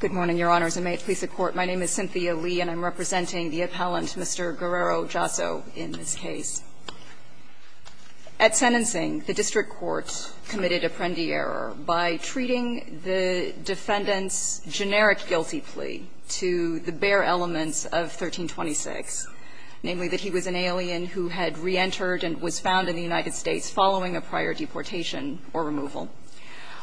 Good morning, Your Honors, and may it please the Court, my name is Cynthia Lee and I'm representing the appellant, Mr. Guerrero-Jasso, in this case. At sentencing, the district court committed a prende error by treating the defendant's generic guilty plea to the bare elements of 1326, namely that he was an alien who had reentered and was found in the United States following a prior deportation or removal,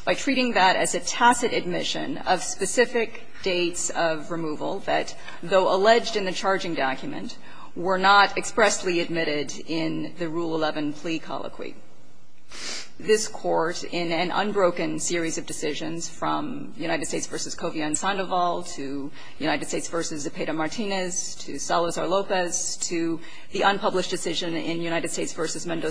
by treating that as a tacit admission of specific dates of removal that, though alleged in the charging document, were not expressly admitted in the Rule 11 plea colloquy. This Court, in an unbroken series of decisions from United States v. Covina and Sandoval to United States v. Zepeda Martinez to Salazar Lopez to the unpublished decision in United States v. Covina, found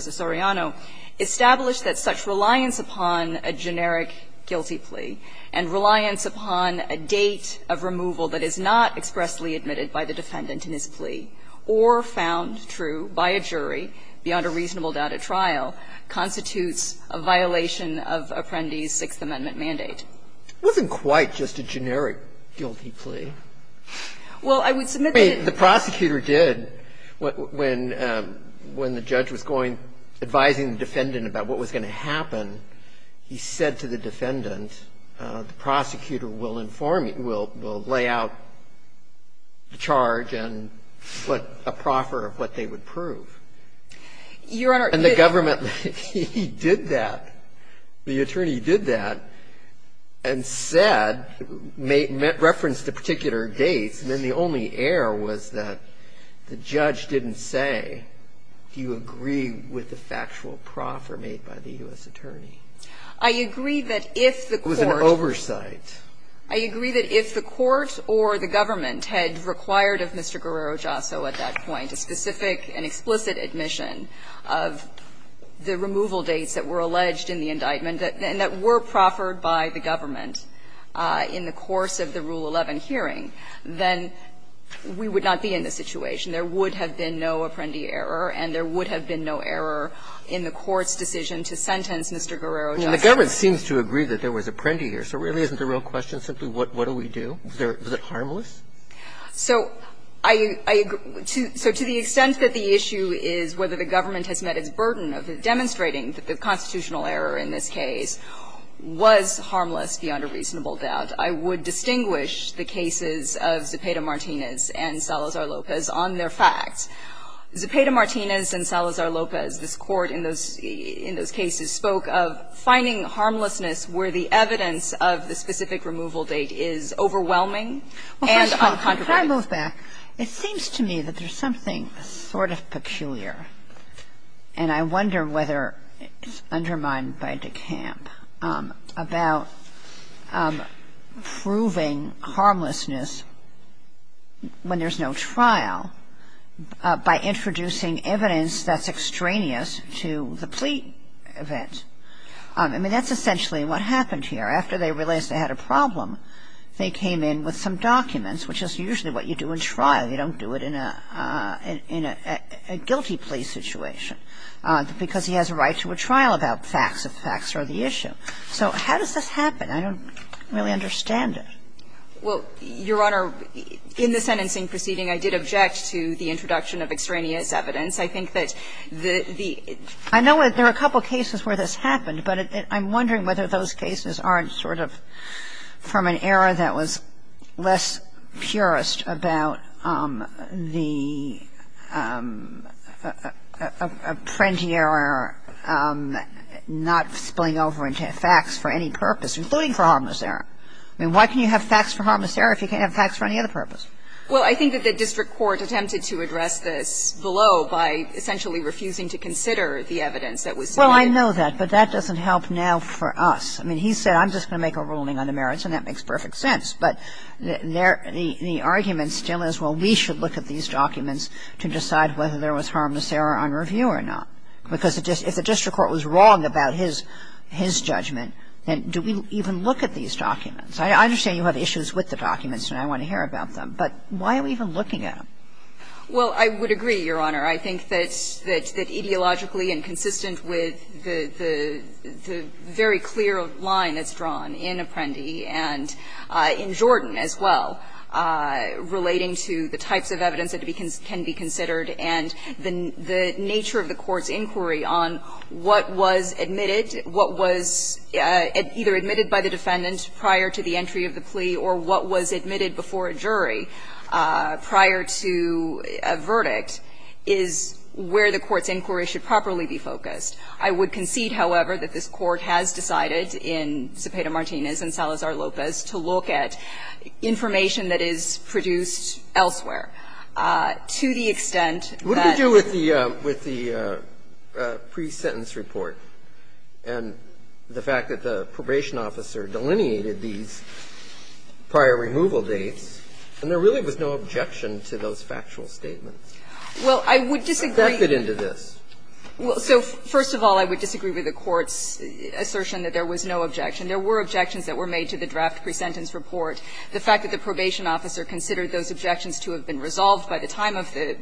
that reliance upon a generic guilty plea and reliance upon a date of removal that is not expressly admitted by the defendant in his plea or found true by a jury beyond a reasonable doubt at trial constitutes a violation of Apprendi's Sixth Amendment mandate. It wasn't quite just a generic guilty plea. Well, I would submit that it was. The prosecutor did. When the judge was going, advising the defendant about what was going to happen, he said to the defendant, the prosecutor will inform you, will lay out the charge and put a proffer of what they would prove. Your Honor, he did. And the government, he did that. The attorney did that and said, referenced the particular dates, and then the only error was that the judge didn't say, do you agree with the factual proffer made by the U.S. attorney? I agree that if the Court was an oversight. I agree that if the Court or the government had required of Mr. Guerrero-Jasso at that point a specific and explicit admission of the removal dates that were alleged in the indictment and that were proffered by the government in the course of the Rule 11 hearing, then we would not be in this situation. There would have been no Apprendi error and there would have been no error in the Court's decision to sentence Mr. Guerrero-Jasso. The government seems to agree that there was Apprendi here, so really isn't the real question simply what do we do? Was it harmless? So I agree, so to the extent that the issue is whether the government has met its burden of demonstrating that the constitutional error in this case was harmless beyond a reasonable doubt, I would distinguish the cases of Zepeda-Martinez and Salazar-Lopez on their facts. Zepeda-Martinez and Salazar-Lopez, this Court in those cases, spoke of finding harmlessness where the evidence of the specific removal date is overwhelming and on contrary. Kagan. It seems to me that there's something sort of peculiar, and I wonder whether it's undermined by DeCamp, about proving harmlessness when there's no trial by introducing evidence that's extraneous to the plea event. I mean, that's essentially what happened here. After they realized they had a problem, they came in with some documents, which is usually what you do in trial. You don't do it in a guilty plea situation, because he has a right to a trial about facts, if facts are the issue. So how does this happen? I don't really understand it. Well, Your Honor, in the sentencing proceeding, I did object to the introduction of extraneous evidence. I think that the – I know there are a couple cases where this happened, but I'm wondering whether those cases aren't sort of from an era that was less purist about the apprenti error, not spilling over into facts for any purpose, including for harmless error. I mean, why can you have facts for harmless error if you can't have facts for any other purpose? Well, I think that the district court attempted to address this below by essentially refusing to consider the evidence that was submitted. And I know that, but that doesn't help now for us. I mean, he said, I'm just going to make a ruling on the merits, and that makes perfect sense, but there – the argument still is, well, we should look at these documents to decide whether there was harmless error on review or not. Because if the district court was wrong about his – his judgment, then do we even look at these documents? I understand you have issues with the documents, and I want to hear about them, but why are we even looking at them? Well, I would agree, Your Honor. I think that – that ideologically and consistent with the very clear line that's drawn in Apprendi and in Jordan as well, relating to the types of evidence that can be considered and the nature of the court's inquiry on what was admitted, what was either admitted by the defendant prior to the entry of the plea or what was admitted before a jury prior to a verdict is where the court's inquiry should properly be focused. I would concede, however, that this Court has decided in Cepeda-Martinez and Salazar-Lopez to look at information that is produced elsewhere to the extent that the – What did it do with the – with the pre-sentence report and the fact that the probation officer delineated these prior removal dates, and there really was no objection to those factual statements? Well, I would disagree. What got it into this? Well, so first of all, I would disagree with the Court's assertion that there was no objection. There were objections that were made to the draft pre-sentence report. The fact that the probation officer considered those objections to have been resolved by the time of the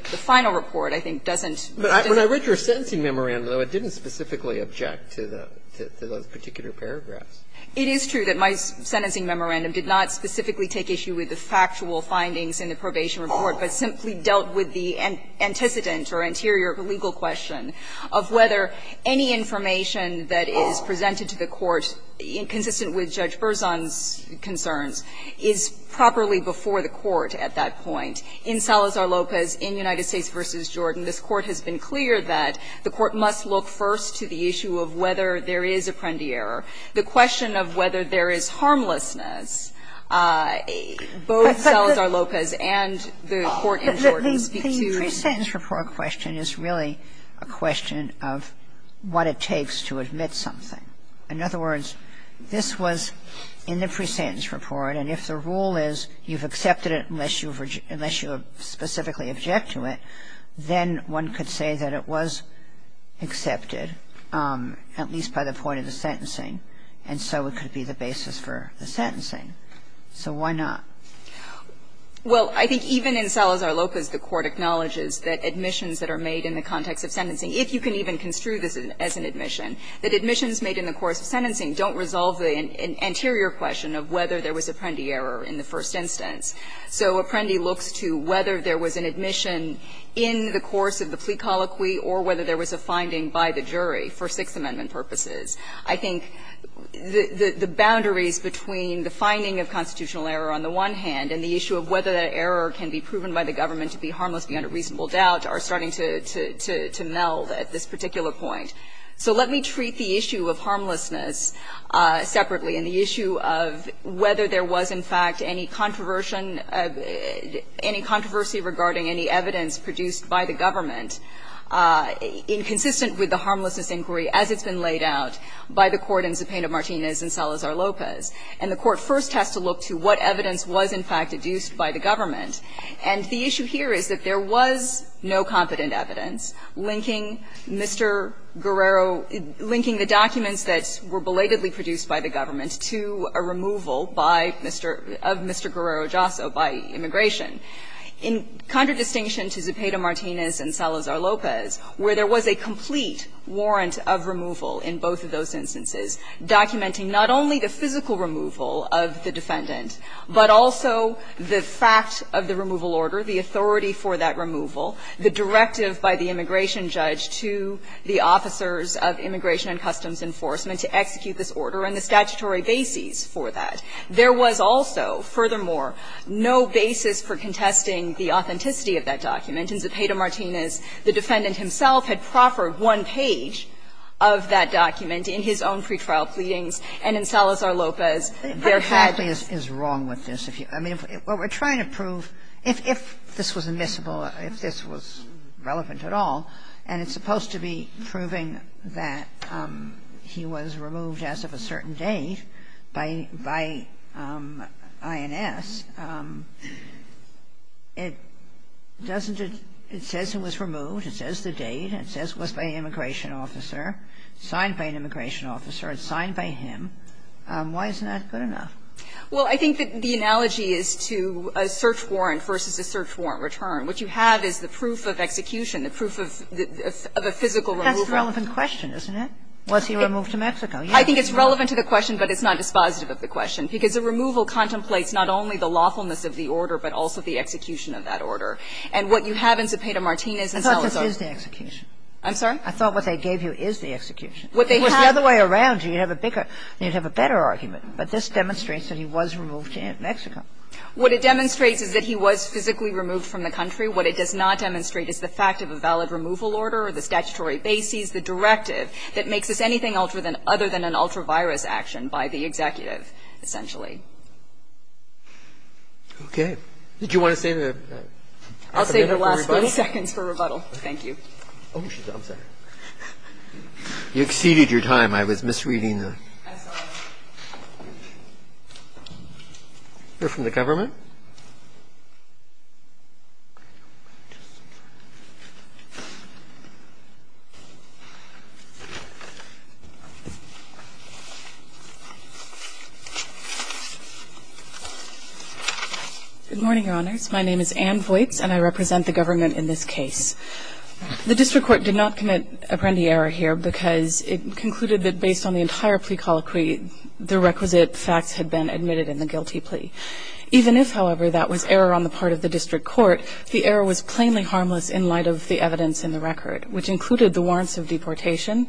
final report, I think, doesn't – But when I read your sentencing memorandum, though, it didn't specifically object to the – to those particular paragraphs. It is true that my sentencing memorandum did not specifically take issue with the factual findings in the probation report, but simply dealt with the antecedent or anterior legal question of whether any information that is presented to the Court, consistent with Judge Berzon's concerns, is properly before the Court at that point. In Salazar-Lopez, in United States v. Jordan, this Court has been clear that the Court must look first to the issue of whether there is a Prendier, the question of whether there is harmlessness. Both Salazar-Lopez and the Court in Jordan speak to the pre-sentence report question is really a question of what it takes to admit something. In other words, this was in the pre-sentence report, and if the rule is you've accepted it unless you've – unless you specifically object to it, then one could say that it was accepted, at least by the point of the sentencing, and so it could be the basis for the sentencing. So why not? Well, I think even in Salazar-Lopez, the Court acknowledges that admissions that are made in the context of sentencing, if you can even construe this as an admission, that admissions made in the course of sentencing don't resolve the anterior question of whether there was a Prendier in the first instance. So Apprendi looks to whether there was an admission in the course of the plea colloquy or whether there was a finding by the jury for Sixth Amendment purposes. I think the boundaries between the finding of constitutional error on the one hand and the issue of whether that error can be proven by the government to be harmless beyond a reasonable doubt are starting to meld at this particular point. So let me treat the issue of harmlessness separately and the issue of whether there was, in fact, any controversy regarding any evidence produced by the government inconsistent with the harmlessness inquiry as it's been laid out by the Court in Zepeda-Martinez and Salazar-Lopez. And the Court first has to look to what evidence was, in fact, deduced by the government. And the issue here is that there was no competent evidence linking Mr. Guerrero linking the documents that were belatedly produced by the government to a removal by Mr. of Mr. Guerrero-Josso by immigration. In contradistinction to Zepeda-Martinez and Salazar-Lopez, where there was a complete warrant of removal in both of those instances documenting not only the physical removal of the defendant, but also the fact of the removal order, the authority for that removal, the directive by the immigration judge to the officers of Immigration and Customs Enforcement to execute this order and the statutory bases for that. There was also, furthermore, no basis for contesting the authenticity of that document. In Zepeda-Martinez, the defendant himself had proffered one page of that document in his own pretrial pleadings, and in Salazar-Lopez, there had been. Sotomayor, is wrong with this. I mean, what we're trying to prove, if this was admissible, if this was relevant at all, and it's supposed to be proving that he was removed as of a certain date by INS, it doesn't add up. It says he was removed, it says the date, it says it was by an immigration officer, signed by an immigration officer, it's signed by him. Why isn't that good enough? Well, I think the analogy is to a search warrant versus a search warrant return. What you have is the proof of execution, the proof of a physical removal. That's the relevant question, isn't it? Was he removed to Mexico? I think it's relevant to the question, but it's not dispositive of the question, because the removal contemplates not only the lawfulness of the order, but also the execution of that order. And what you have in Zepeda-Martinez and Salazar-Lopez. I thought this is the execution. I'm sorry? I thought what they gave you is the execution. What they have to do is the other way around, you'd have a bigger, you'd have a better argument, but this demonstrates that he was removed to Mexico. What it demonstrates is that he was physically removed from the country. What it does not demonstrate is the fact of a valid removal order or the statutory basis, the directive that makes this anything other than an ultra-virus action by the executive, essentially. Okay. Did you want to say the rebuttal? I'll save the last 30 seconds for rebuttal. Thank you. Oh, I'm sorry. You exceeded your time. I was misreading the question. You're from the government? Good morning, Your Honors. My name is Ann Voights, and I represent the government in this case. The district court did not commit a prende error here because it concluded that based on the entire plea colloquy, the requisite facts had been admitted in the guilty plea. Even if, however, that was error on the part of the district court, the error was plainly harmless in light of the evidence in the record, which included the warrants of deportation,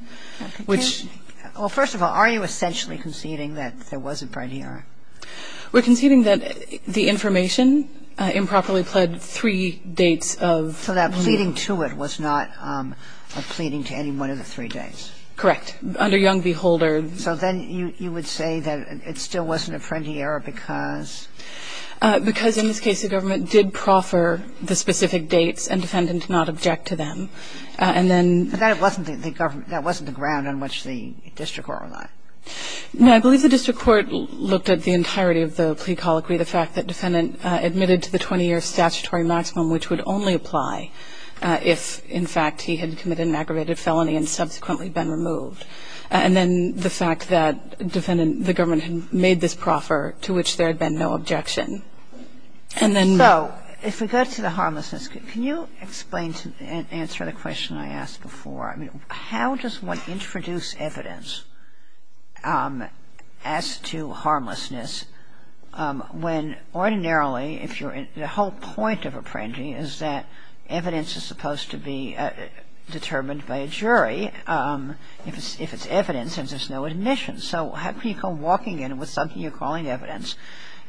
which – Well, first of all, are you essentially conceding that there was a prende error? We're conceding that the information improperly pled three dates of – So that pleading to it was not a pleading to any one of the three dates. Correct. Under Young v. Holder – So then you would say that it still wasn't a prende error because – Because in this case the government did proffer the specific dates and defendant did not object to them. And then – But that wasn't the ground on which the district court relied. No, I believe the district court looked at the entirety of the plea colloquy, the fact that defendant admitted to the 20-year statutory maximum, which would only apply if, in fact, he had committed an aggravated felony and subsequently been removed. And then the fact that defendant – the government had made this proffer to which there had been no objection. And then – So if we go to the harmlessness, can you explain – answer the question I asked before? I mean, how does one introduce evidence as to harmlessness when ordinarily if you're – the whole point of a prende is that evidence is supposed to be determined by a jury. If it's evidence and there's no admission. So how can you go walking in with something you're calling evidence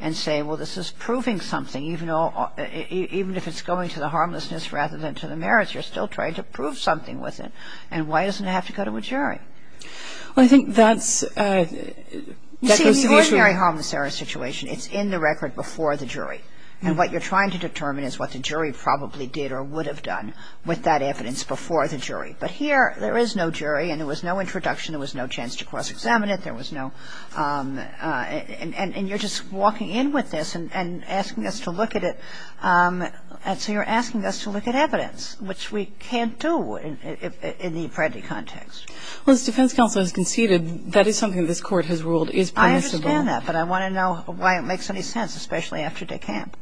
and say, well, this is proving something even though – even if it's going to the harmlessness rather than to the merits, you're still trying to prove something with it. And why doesn't it have to go to a jury? Well, I think that's – You see, in the ordinary harmless error situation, it's in the record before the jury. And what you're trying to determine is what the jury probably did or would have done with that evidence before the jury. But here, there is no jury and there was no introduction. There was no chance to cross-examine it. There was no – and you're just walking in with this and asking us to look at it. And so you're asking us to look at evidence, which we can't do in the prende context. Well, as defense counsel has conceded, that is something that this Court has ruled is permissible. I understand that, but I want to know why it makes any sense, especially after de camp.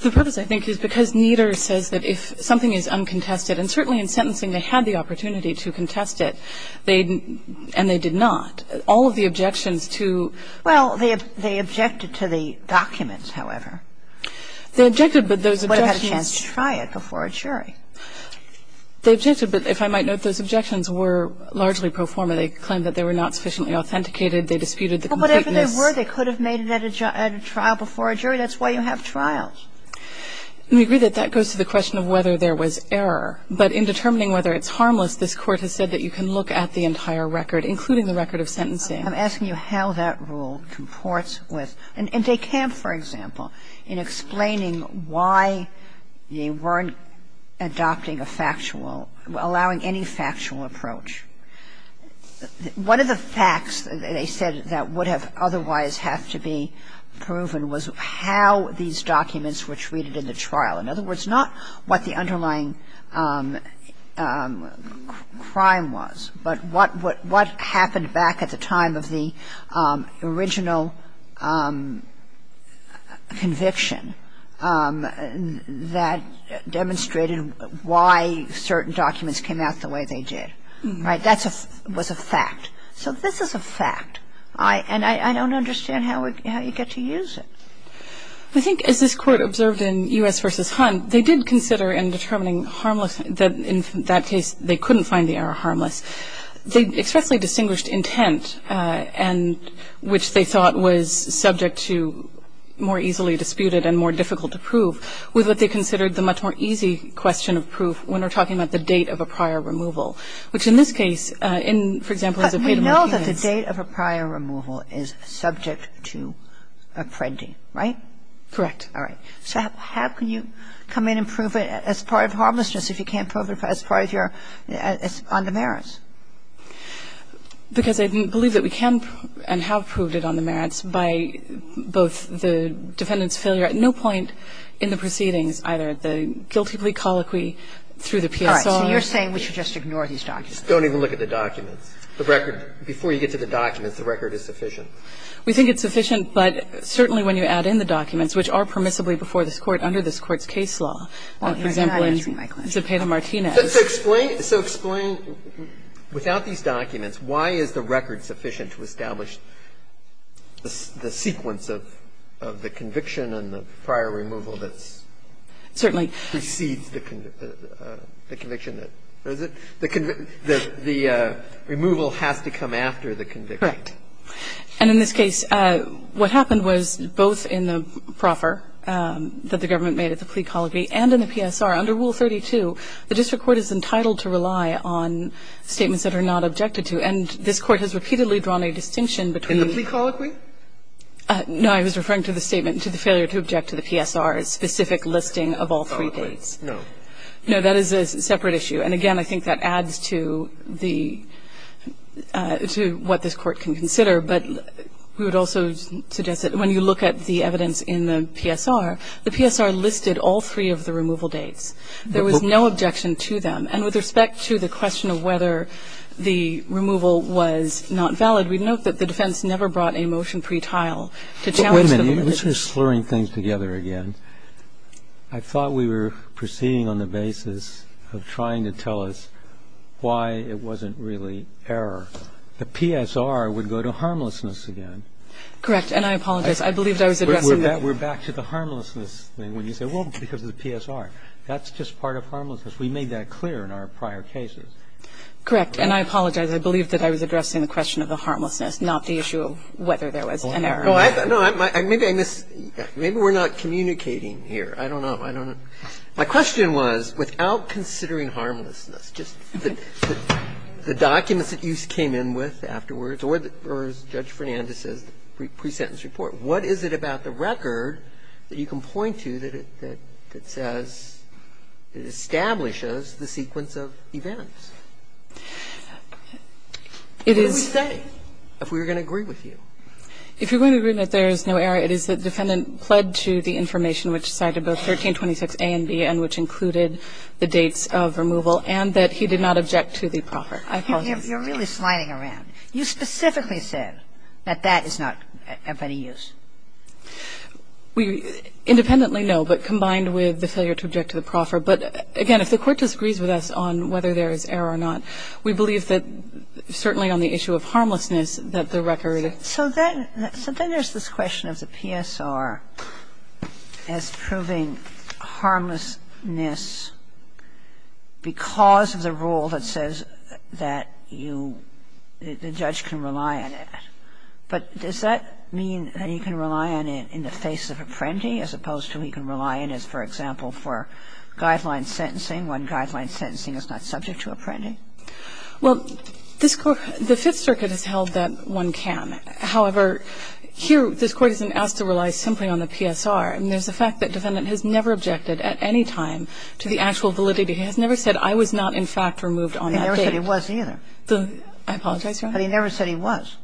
The purpose, I think, is because Nieder says that if something is uncontested by the jury, there is a chance that the jury would have a chance to cross-examine it. And certainly in sentencing, they had the opportunity to contest it. They – and they did not. All of the objections to – Well, they objected to the documents, however. They objected, but those objections – They would have had a chance to try it before a jury. They objected, but if I might note, those objections were largely pro forma. They claimed that they were not sufficiently authenticated. They disputed the completeness – But in determining whether it's harmless, this Court has said that you can look at the entire record, including the record of sentencing. I'm asking you how that rule comports with – and de camp, for example, in explaining why they weren't adopting a factual – allowing any factual approach. One of the facts they said that would have otherwise have to be proven was how these documents were treated in the trial. In other words, not what the underlying crime was, but what happened back at the time of the original conviction that demonstrated why certain documents came out the way they did. Right? That was a fact. So this is a fact. And I don't understand how you get to use it. I think, as this Court observed in U.S. v. Hunt, they did consider in determining harmless – that in that case, they couldn't find the error harmless. They expressly distinguished intent and – which they thought was subject to more easily disputed and more difficult to prove with what they considered the much more easy question of proof when we're talking about the date of a prior removal, which in this case, in, for example, as a – But we know that the date of a prior removal is subject to a printing. Right? Correct. All right. So how can you come in and prove it as part of harmlessness if you can't prove it as part of your – on the merits? Because I believe that we can and have proved it on the merits by both the defendant's failure at no point in the proceedings either, the guilty plea colloquy through the PSR. All right. So you're saying we should just ignore these documents. Don't even look at the documents. The record – before you get to the documents, the record is sufficient. We think it's sufficient. But certainly when you add in the documents, which are permissibly before this Court under this Court's case law, for example, in Zepeda-Martinez. So explain – so explain, without these documents, why is the record sufficient to establish the sequence of the conviction and the prior removal that's – Certainly. – precedes the conviction that – is it? The removal has to come after the conviction. Correct. And in this case, what happened was both in the proffer that the government made at the plea colloquy and in the PSR, under Rule 32, the district court is entitled to rely on statements that are not objected to. And this Court has repeatedly drawn a distinction between – In the plea colloquy? No. I was referring to the statement to the failure to object to the PSR's specific listing of all three cases. No. No. That is a separate issue. And again, I think that adds to the – to what this Court can consider. But we would also suggest that when you look at the evidence in the PSR, the PSR listed all three of the removal dates. There was no objection to them. And with respect to the question of whether the removal was not valid, we note that the defense never brought a motion pre-tile to challenge the validity. Wait a minute. You're sort of slurring things together again. I thought we were proceeding on the basis of trying to tell us why it wasn't really error. The PSR would go to harmlessness again. Correct. And I apologize. I believe I was addressing the – We're back to the harmlessness thing when you say, well, because of the PSR. That's just part of harmlessness. We made that clear in our prior cases. Correct. And I apologize. I believe that I was addressing the question of the harmlessness, not the issue of whether there was an error. Maybe I missed – maybe we're not communicating here. I don't know. My question was, without considering harmlessness, just the documents that you came in with afterwards or Judge Fernandez's pre-sentence report, what is it about the record that you can point to that says it establishes the sequence of events? It is – What would we say if we were going to agree with you? If you're going to agree that there is no error, it is that the defendant pled to the information which cited both 1326A and B and which included the dates of removal and that he did not object to the proffer. I apologize. You're really sliding around. You specifically said that that is not of any use. Independently, no, but combined with the failure to object to the proffer. But, again, if the Court disagrees with us on whether there is error or not, we believe that certainly on the issue of harmlessness that the record – So then there's this question of the PSR as proving harmlessness because of the rule that says that you – the judge can rely on it. But does that mean that he can rely on it in the face of apprendee as opposed to he can rely on it, for example, for guideline sentencing when guideline sentencing is not subject to apprendee? Well, this Court – the Fifth Circuit has held that one can. However, here this Court isn't asked to rely simply on the PSR. And there's the fact that defendant has never objected at any time to the actual validity. He has never said, I was not, in fact, removed on that date. He never said he was either. I apologize, Your Honor. But he never said he was.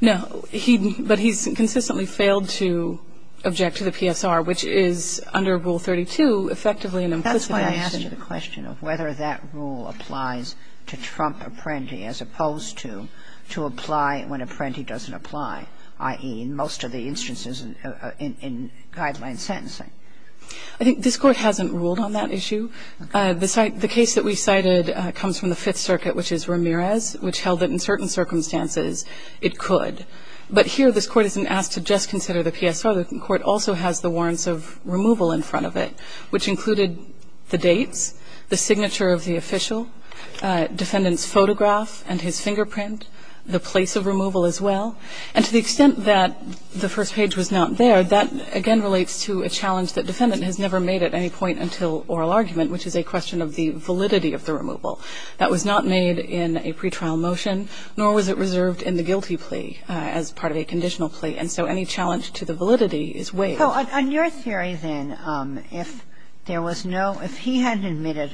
No. He – but he's consistently failed to object to the PSR, which is under Rule 32 effectively an implicit – That's why I asked you the question of whether that rule applies to trump apprendee as opposed to to apply when apprendee doesn't apply, i.e., in most of the instances in guideline sentencing. I think this Court hasn't ruled on that issue. The case that we cited comes from the Fifth Circuit, which is Ramirez, which held that in certain circumstances it could. But here this Court isn't asked to just consider the PSR. The court also has the warrants of removal in front of it, which included the dates, the signature of the official, defendant's photograph and his fingerprint, the place of removal as well. And to the extent that the first page was not there, that again relates to a challenge that defendant has never made at any point until oral argument, which is a question of the validity of the removal. That was not made in a pretrial motion, nor was it reserved in the guilty plea as part of a conditional plea. And so any challenge to the validity is waived. So on your theory, then, if there was no – if he hadn't admitted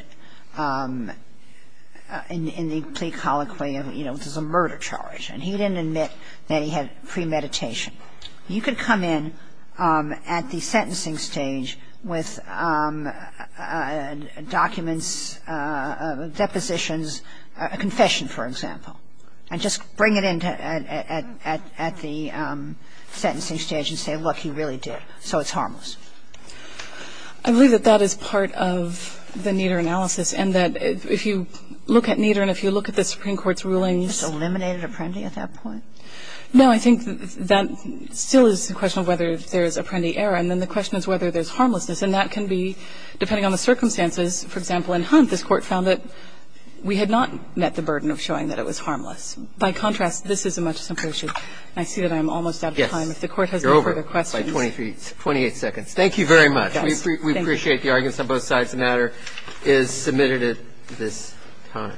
in the plea colloquium, you know, there's a murder charge, and he didn't admit that he had premeditation, you could come in at the sentencing stage with documents, depositions, a confession, for example, and just bring it in at the sentencing stage and say, look, he really did. So it's harmless. I believe that that is part of the Nieder analysis, and that if you look at Nieder and if you look at the Supreme Court's rulings. It's eliminated Apprendi at that point? No, I think that still is a question of whether there is Apprendi error, and then the question is whether there's harmlessness. And that can be, depending on the circumstances, for example, in Hunt, this Court found that we had not met the burden of showing that it was harmless. By contrast, this is a much simpler issue. I see that I'm almost out of time. Yes. If the Court has no further questions. You're over by 28 seconds. Thank you very much. We appreciate the arguments on both sides of the matter. It is submitted at this time.